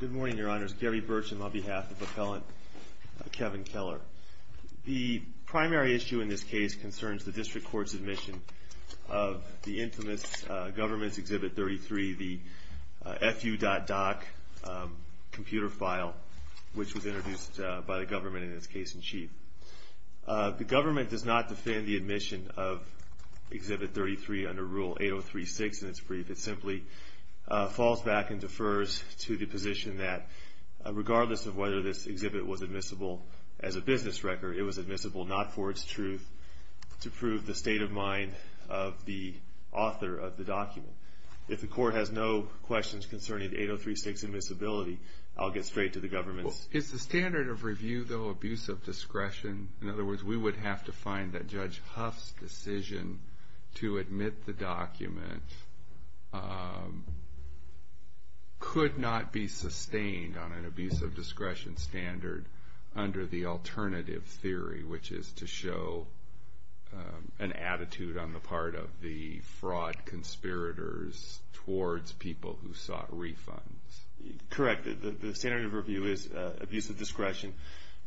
Good morning, your honors. Gary Burcham on behalf of the appellant Kevin Keller. The primary issue in this case concerns the district court's admission of the infamous government's exhibit 33, the fu.doc computer file, which was introduced by the government in this case in chief. The government does not defend the admission of exhibit 33 under Rule 803-6 in its brief. It simply falls back and defers to the position that regardless of whether this exhibit was admissible as a business record, it was admissible not for its truth to prove the state of mind of the author of the document. If the court has no questions concerning 803-6 admissibility, I'll get straight to the government's. Is the standard of review, though, abuse of discretion? In other words, we would have to find that Judge Huff's decision to admit the document could not be sustained on an abuse of discretion standard under the alternative theory, which is to show an attitude on the part of the fraud conspirators towards people who sought refunds. Correct. The standard of review is abuse of discretion,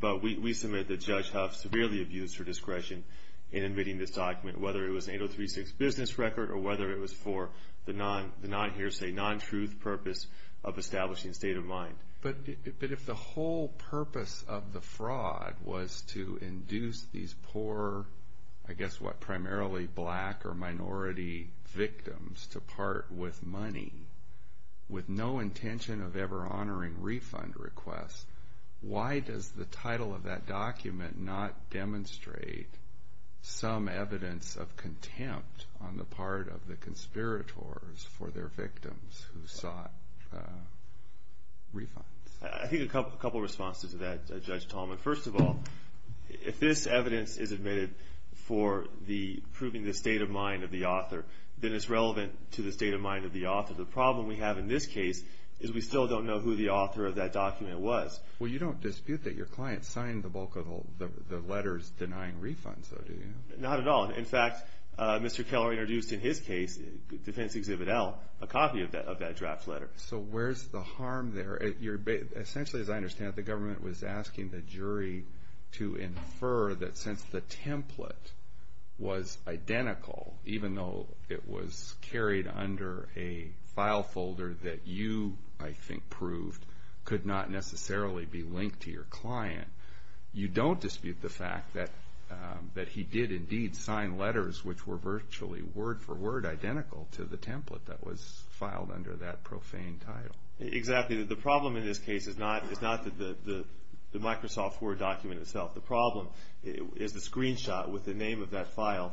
but we submit that Judge Huff severely abused her discretion in admitting this document, whether it was an 803-6 business record or whether it was for the non-hearsay, non-truth purpose of establishing a state of mind. But if the whole purpose of the fraud was to induce these poor, I guess, what, primarily black or minority victims to part with money with no intention of ever honoring refund requests, why does the title of that document not demonstrate some evidence of contempt on the part of the conspirators for their victims who sought refunds? I think a couple of responses to that, Judge Talman. First of all, if this evidence is submitted for the proving the state of mind of the author, then it's relevant to the state of mind of the author. The problem we have in this case is we still don't know who the author of that document was. Well, you don't dispute that your client signed the bulk of the letters denying refunds, do you? Not at all. In fact, Mr. Keller introduced in his case, Defense Exhibit L, a copy of that draft letter. So where's the harm there? Essentially, as I understand it, the government was asking the jury to infer that since the template was identical, even though it was carried under a file folder that you, I think, proved could not necessarily be linked to your client, you don't dispute the fact that he did indeed sign letters which were virtually word for word identical to the template that was filed under that profane title. Exactly. The problem in this case is not the Microsoft Word document itself. The problem is the screenshot with the name of that file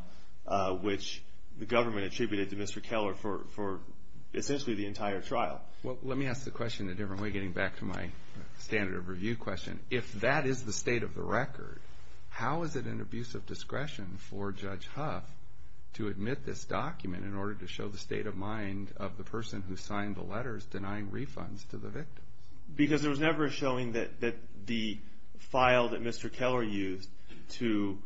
which the government attributed to Mr. Keller for essentially the entire trial. Well, let me ask the question a different way, getting back to my standard of review question. If that is the state of the record, how is it an abuse of discretion for Judge Huff to admit this document in order to show the state of mind of the person who signed the letters denying refunds to the victims? Because there was never a showing that the file that Mr. Keller used to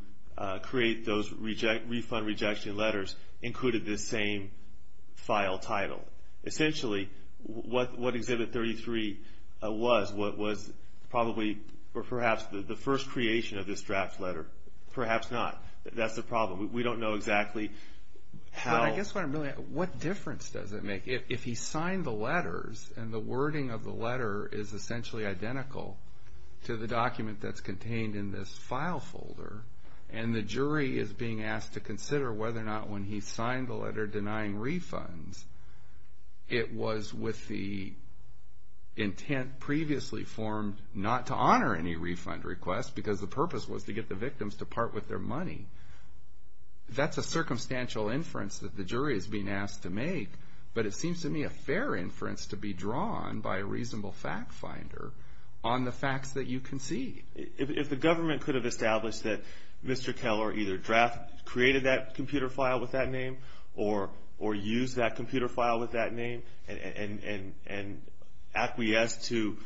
create those refund rejection letters included this same file title. Essentially, what Exhibit 33 was, what was probably or perhaps the first creation of this draft letter. Perhaps not. That's the problem. We don't know exactly how. I guess what I'm really asking, what difference does it make if he signed the letters and the wording of the letter is essentially identical to the document that's contained in this file folder and the jury is being asked to consider whether or not when he signed the letter denying refunds it was with the intent previously formed not to honor any refund request because the purpose was to get the victims to part with their money. That's a circumstantial inference that the jury is being asked to make, but it seems to me a fair inference to be drawn by a reasonable fact finder on the facts that you concede. If the government could have established that Mr. Keller either drafted, created that computer file with that name or used that computer file with that name and acquiesced to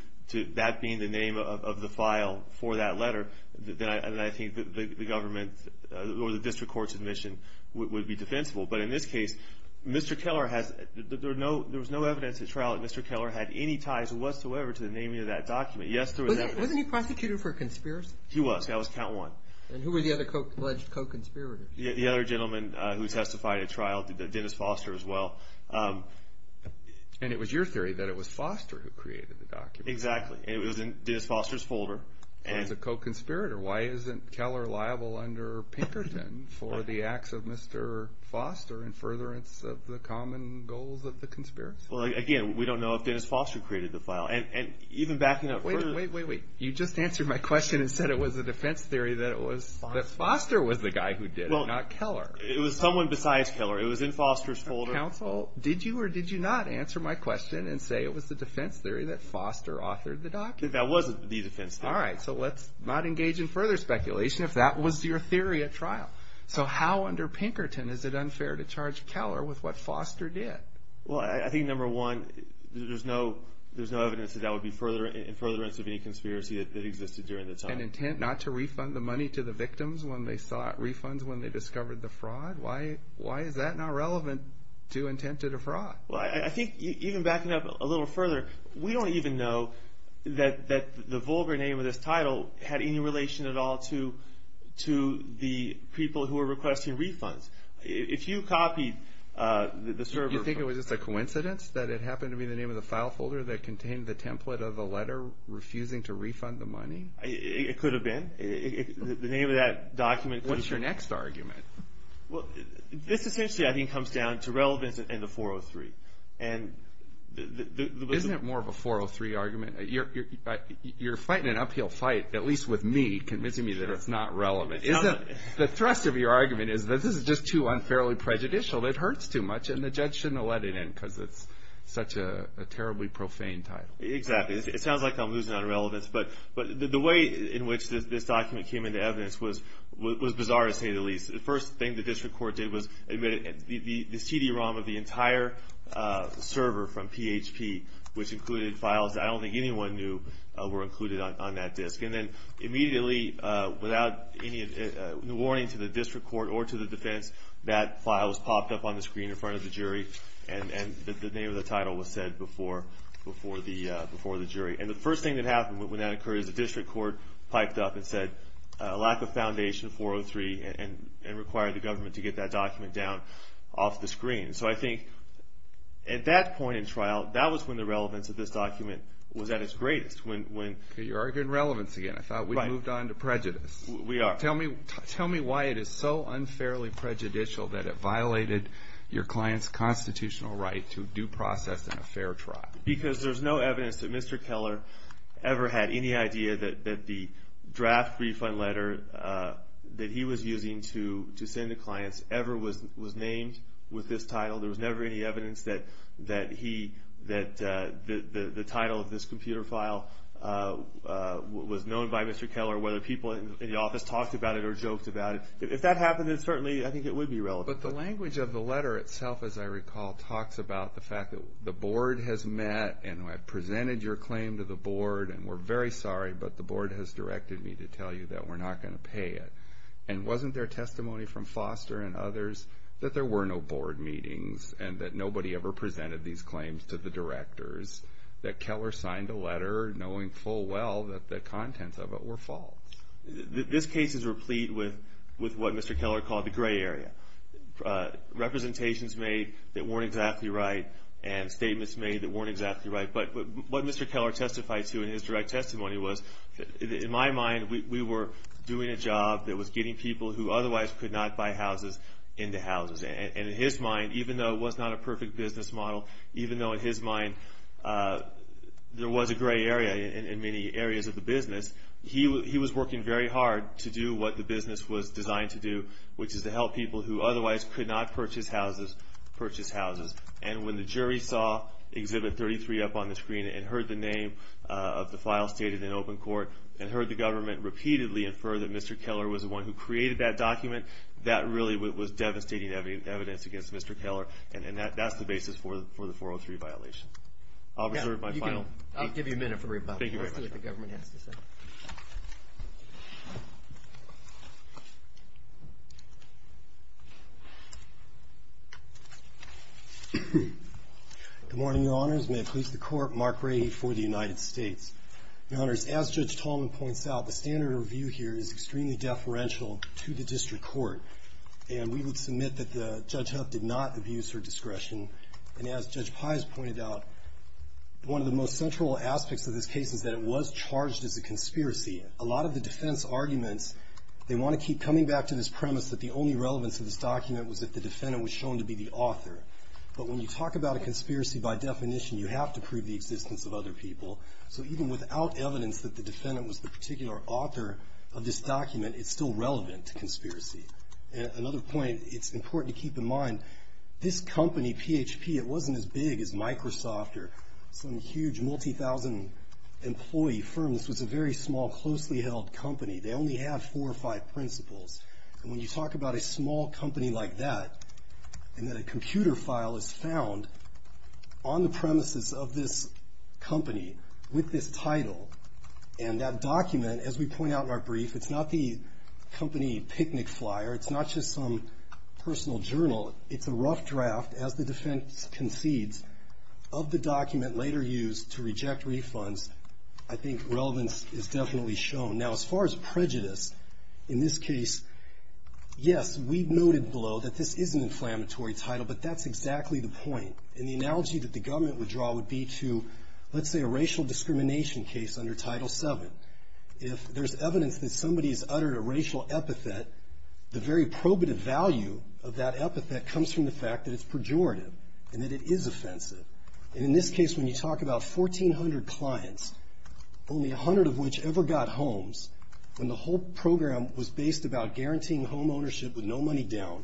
that being the name of the file for that letter, then I think the government or the district court's admission would be defensible. But in this case, Mr. Keller has, there was no evidence at trial that Mr. Keller had any ties whatsoever to the naming of that document. Yes, there was evidence. Wasn't he prosecuted for a conspiracy? He was. That was count one. And who were the other alleged co-conspirators? The other gentleman who testified at trial, Dennis Foster as well. And it was your theory that it was Foster who created the document. Exactly. It was in Dennis Foster's folder. If he was a co-conspirator, why isn't Keller liable under Pinkerton for the acts of Mr. Foster in furtherance of the common goals of the conspiracy? Well, again, we don't know if Dennis Foster created the file. And even backing up further... Wait, wait, wait, wait. You just answered my question and said it was a defense theory that it was that Foster was the guy who did it, not Keller. It was someone besides Keller. It was in Foster's folder. Counsel, did you or did you not answer my question and say it was the defense theory that Foster authored the document? That wasn't the defense theory. All right. So let's not engage in further speculation if that was your theory at trial. So how under Pinkerton is it unfair to charge Keller with what Foster did? Well, I think, number one, there's no evidence that that would be in furtherance of any conspiracy that existed during the time. And intent not to refund the money to the victims when they sought refunds when they discovered the fraud? Why is that not relevant to intent to defraud? Well, I think even backing up a little further, we don't even know that the vulgar name of this title had any relation at all to the people who were requesting refunds. If you copied the server... You think it was just a coincidence that it happened to be the name of the file folder that contained the template of the letter refusing to refund the money? It could have been. The name of that document... What's your next argument? Well, this essentially, I think, comes down to relevance and the 403. Isn't it more of a 403 argument? You're fighting an uphill fight, at least with me, convincing me that it's not relevant. The thrust of your argument is that this is just too unfairly prejudicial. It hurts too much, and the judge shouldn't have let it in because it's such a terribly profane title. Exactly. It sounds like I'm losing on relevance. But the way in which this document came into evidence was bizarre, to say the least. The first thing the district court did was admit the CD-ROM of the entire server from PHP, which included files that I don't think anyone knew were included on that disk. And then immediately, without any warning to the district court or to the defense, that file was popped up on the screen in front of the jury, and the name of the title was said before the jury. And the first thing that happened when that occurred is the district court piped up and said a lack of foundation, 403, and required the government to get that document down off the screen. So I think at that point in trial, that was when the relevance of this document was at its greatest. You're arguing relevance again. I thought we'd moved on to prejudice. We are. Tell me why it is so unfairly prejudicial that it violated your client's constitutional right to due process in a fair trial. Because there's no evidence that Mr. Keller ever had any idea that the draft refund letter that he was using to send to clients ever was named with this title. There was never any evidence that the title of this computer file was known by Mr. Keller, whether people in the office talked about it or joked about it. If that happened, then certainly I think it would be relevant. But the language of the letter itself, as I recall, talks about the fact that the board has met and I've presented your claim to the board, and we're very sorry, but the board has directed me to tell you that we're not going to pay it. And wasn't there testimony from Foster and others that there were no board meetings and that nobody ever presented these claims to the directors, that Keller signed a letter knowing full well that the contents of it were false? This case is replete with what Mr. Keller called the gray area, representations made that weren't exactly right and statements made that weren't exactly right. But what Mr. Keller testified to in his direct testimony was, in my mind, we were doing a job that was getting people who otherwise could not buy houses into houses. And in his mind, even though it was not a perfect business model, even though in his mind there was a gray area in many areas of the business, he was working very hard to do what the business was designed to do, which is to help people who otherwise could not purchase houses purchase houses. And when the jury saw Exhibit 33 up on the screen and heard the name of the file stated in open court and heard the government repeatedly infer that Mr. Keller was the one who created that document, that really was devastating evidence against Mr. Keller. And that's the basis for the 403 violation. I'll reserve my final. I'll give you a minute for rebuttal. Let's see what the government has to say. Good morning, Your Honors. May it please the Court, Mark Rahe for the United States. Your Honors, as Judge Tallman points out, the standard of review here is extremely deferential to the district court. And we would submit that Judge Huff did not abuse her discretion. And as Judge Pais pointed out, one of the most central aspects of this case is that it was charged as a conspiracy. A lot of the defense arguments, they want to keep coming back to this premise that the only relevance of this document was that the defendant was shown to be the author. But when you talk about a conspiracy by definition, you have to prove the existence of other people. So even without evidence that the defendant was the particular author of this document, it's still relevant to conspiracy. Another point it's important to keep in mind, this company, PHP, it wasn't as big as Microsoft or some huge multi-thousand employee firm. This was a very small, closely held company. They only had four or five principals. And when you talk about a small company like that, and that a computer file is found on the premises of this company with this title, and that document, as we point out in our brief, it's not the company picnic flyer. It's not just some personal journal. It's a rough draft, as the defense concedes, of the document later used to reject refunds. I think relevance is definitely shown. Now, as far as prejudice, in this case, yes, we noted below that this is an inflammatory title, but that's exactly the point. And the analogy that the government would draw would be to, let's say, a racial discrimination case under Title VII. If there's evidence that somebody's uttered a racial epithet, the very probative value of that epithet comes from the fact that it's pejorative and that it is offensive. And in this case, when you talk about 1,400 clients, only 100 of which ever got homes, when the whole program was based about guaranteeing home ownership with no money down,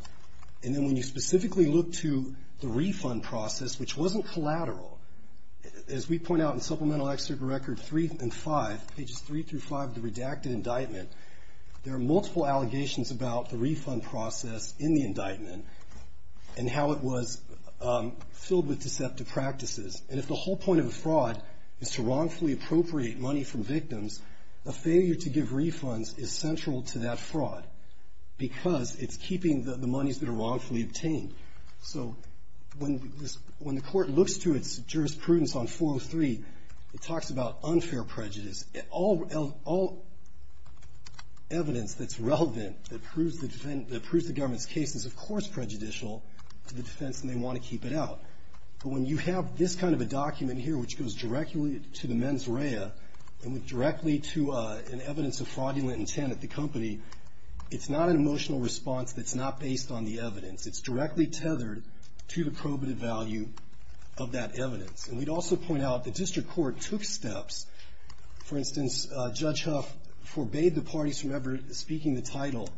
and then when you specifically look to the refund process, which wasn't collateral, as we point out in Supplemental Excerpt Record 3 and 5, pages 3 through 5 of the redacted indictment, there are multiple allegations about the refund process in the indictment and how it was filled with deceptive practices. And if the whole point of a fraud is to wrongfully appropriate money from victims, a failure to give refunds is central to that fraud because it's keeping the monies that are wrongfully obtained. So when the Court looks to its jurisprudence on 403, it talks about unfair prejudice. All evidence that's relevant that proves the government's case is, of course, prejudicial to the defense, and they want to keep it out. But when you have this kind of a document here which goes directly to the mens rea and directly to an evidence of fraudulent intent at the company, it's not an emotional response that's not based on the evidence. It's directly tethered to the probative value of that evidence. And we'd also point out the district court took steps. For instance, Judge Huff forbade the parties from ever speaking the title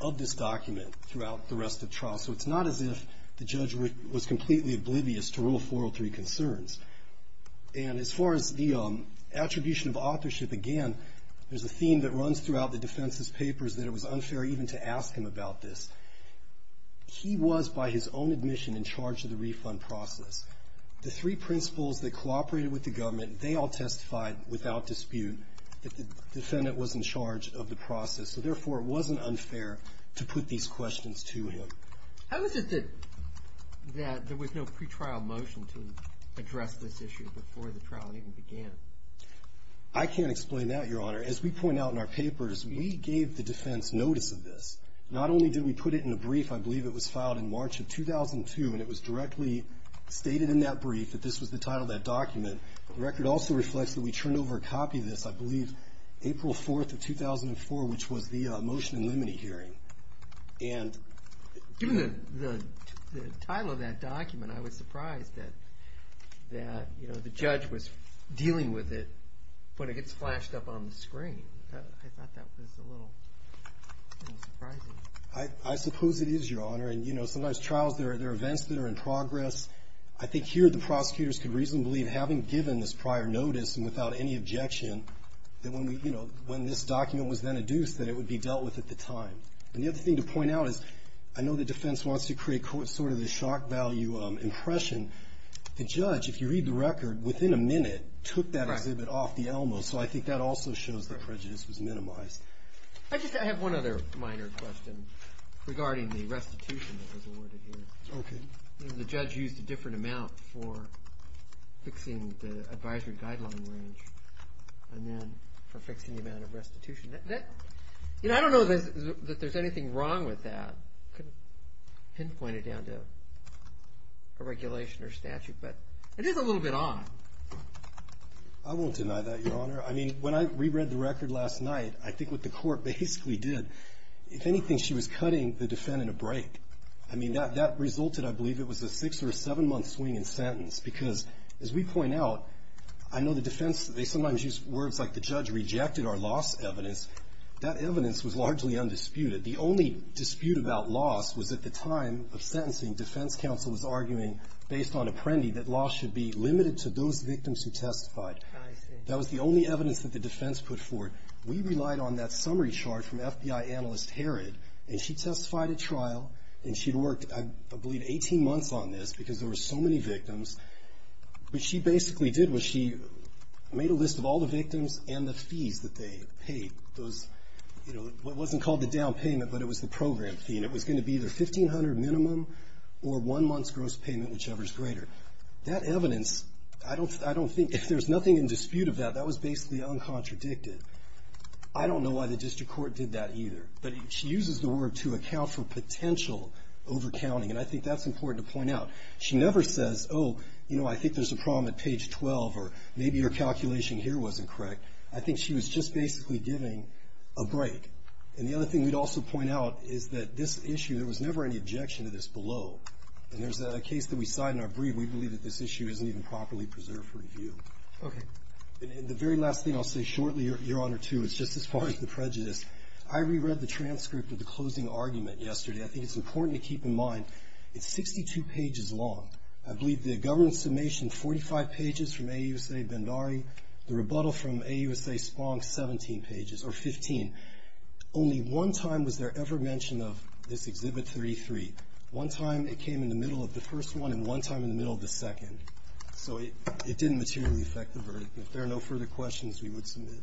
of this document throughout the rest of trial. So it's not as if the judge was completely oblivious to Rule 403 concerns. And as far as the attribution of authorship, again, there's a theme that runs throughout the defense's papers that it was unfair even to ask him about this. He was, by his own admission, in charge of the refund process. The three principals that cooperated with the government, they all testified without dispute that the defendant was in charge of the process. So, therefore, it wasn't unfair to put these questions to him. How is it that there was no pretrial motion to address this issue before the trial even began? I can't explain that, Your Honor. As we point out in our papers, we gave the defense notice of this. Not only did we put it in a brief, I believe it was filed in March of 2002, and it was directly stated in that brief that this was the title of that document. The record also reflects that we turned over a copy of this, I believe April 4th of 2004, which was the motion in limine hearing. Given the title of that document, I was surprised that the judge was dealing with it when it gets flashed up on the screen. I thought that was a little surprising. I suppose it is, Your Honor. And, you know, sometimes trials, they're events that are in progress. I think here the prosecutors can reasonably, having given this prior notice and without any objection, that when this document was then adduced that it would be dealt with at the time. And the other thing to point out is I know the defense wants to create sort of the shock value impression. The judge, if you read the record, within a minute took that exhibit off the Elmo, so I think that also shows that prejudice was minimized. I just have one other minor question regarding the restitution that was awarded here. Okay. The judge used a different amount for fixing the advisory guideline range and then for fixing the amount of restitution. You know, I don't know that there's anything wrong with that. I couldn't pinpoint it down to a regulation or statute, but it is a little bit odd. I won't deny that, Your Honor. I mean, when I reread the record last night, I think what the court basically did, if anything, she was cutting the defendant a break. I mean, that resulted, I believe it was a six or a seven-month swing in sentence because, as we point out, I know the defense, they sometimes use words like the judge rejected our loss evidence. That evidence was largely undisputed. The only dispute about loss was at the time of sentencing, defense counsel was arguing based on Apprendi that loss should be limited to those victims who testified. That was the only evidence that the defense put forward. We relied on that summary chart from FBI analyst Herod, and she testified at trial, and she worked, I believe, 18 months on this because there were so many victims. What she basically did was she made a list of all the victims and the fees that they paid. Those, you know, it wasn't called the down payment, but it was the program fee, and it was going to be either $1,500 minimum or one month's gross payment, whichever is greater. That evidence, I don't think, if there's nothing in dispute of that, that was basically uncontradicted. I don't know why the district court did that either. But she uses the word to account for potential overcounting, and I think that's important to point out. She never says, oh, you know, I think there's a problem at page 12, or maybe your calculation here wasn't correct. I think she was just basically giving a break. And the other thing we'd also point out is that this issue, there was never any objection to this below. And there's a case that we cite in our brief. We believe that this issue isn't even properly preserved for review. Okay. And the very last thing I'll say shortly, Your Honor, too, is just as far as the prejudice. I reread the transcript of the closing argument yesterday. I think it's important to keep in mind it's 62 pages long. I believe the government summation, 45 pages from AUSA Bhandari, the rebuttal from AUSA Spong, 17 pages, or 15. Only one time was there ever mention of this Exhibit 33. One time it came in the middle of the first one, and one time in the middle of the second. So it didn't materially affect the verdict. If there are no further questions, we would submit.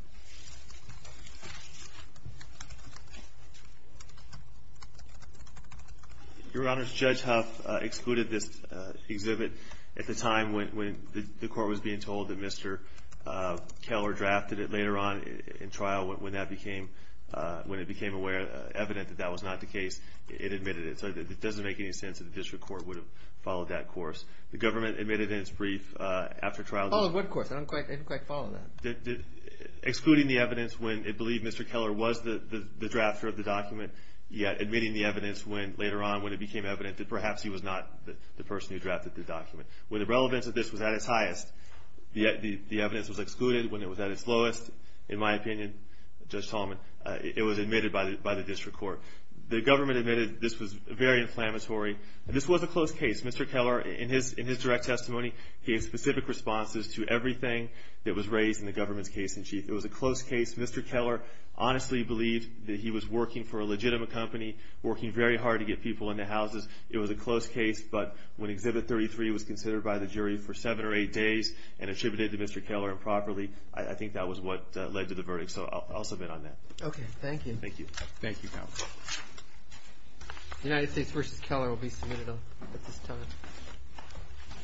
Your Honors, Judge Huff excluded this Exhibit at the time when the Court was being told that Mr. Keller drafted it. Later on in trial, when that became, when it became evident that that was not the case, it admitted it. So it doesn't make any sense that the District Court would have followed that course. The government admitted in its brief after trial. Followed what course? I don't quite follow that. Excluding the evidence when it believed Mr. Keller was the drafter of the document, yet admitting the evidence later on when it became evident that perhaps he was not the person who drafted the document. When the relevance of this was at its highest, the evidence was excluded. When it was at its lowest, in my opinion, Judge Tallman, it was admitted by the District Court. The government admitted this was very inflammatory, and this was a close case. Mr. Keller, in his direct testimony, gave specific responses to everything that was raised in the government's case in chief. It was a close case. Mr. Keller honestly believed that he was working for a legitimate company, working very hard to get people into houses. It was a close case, but when Exhibit 33 was considered by the jury for seven or eight days and attributed to Mr. Keller improperly, I think that was what led to the verdict. So I'll submit on that. Okay. Thank you. Thank you, Counsel. The United States v. Keller will be submitted at this time.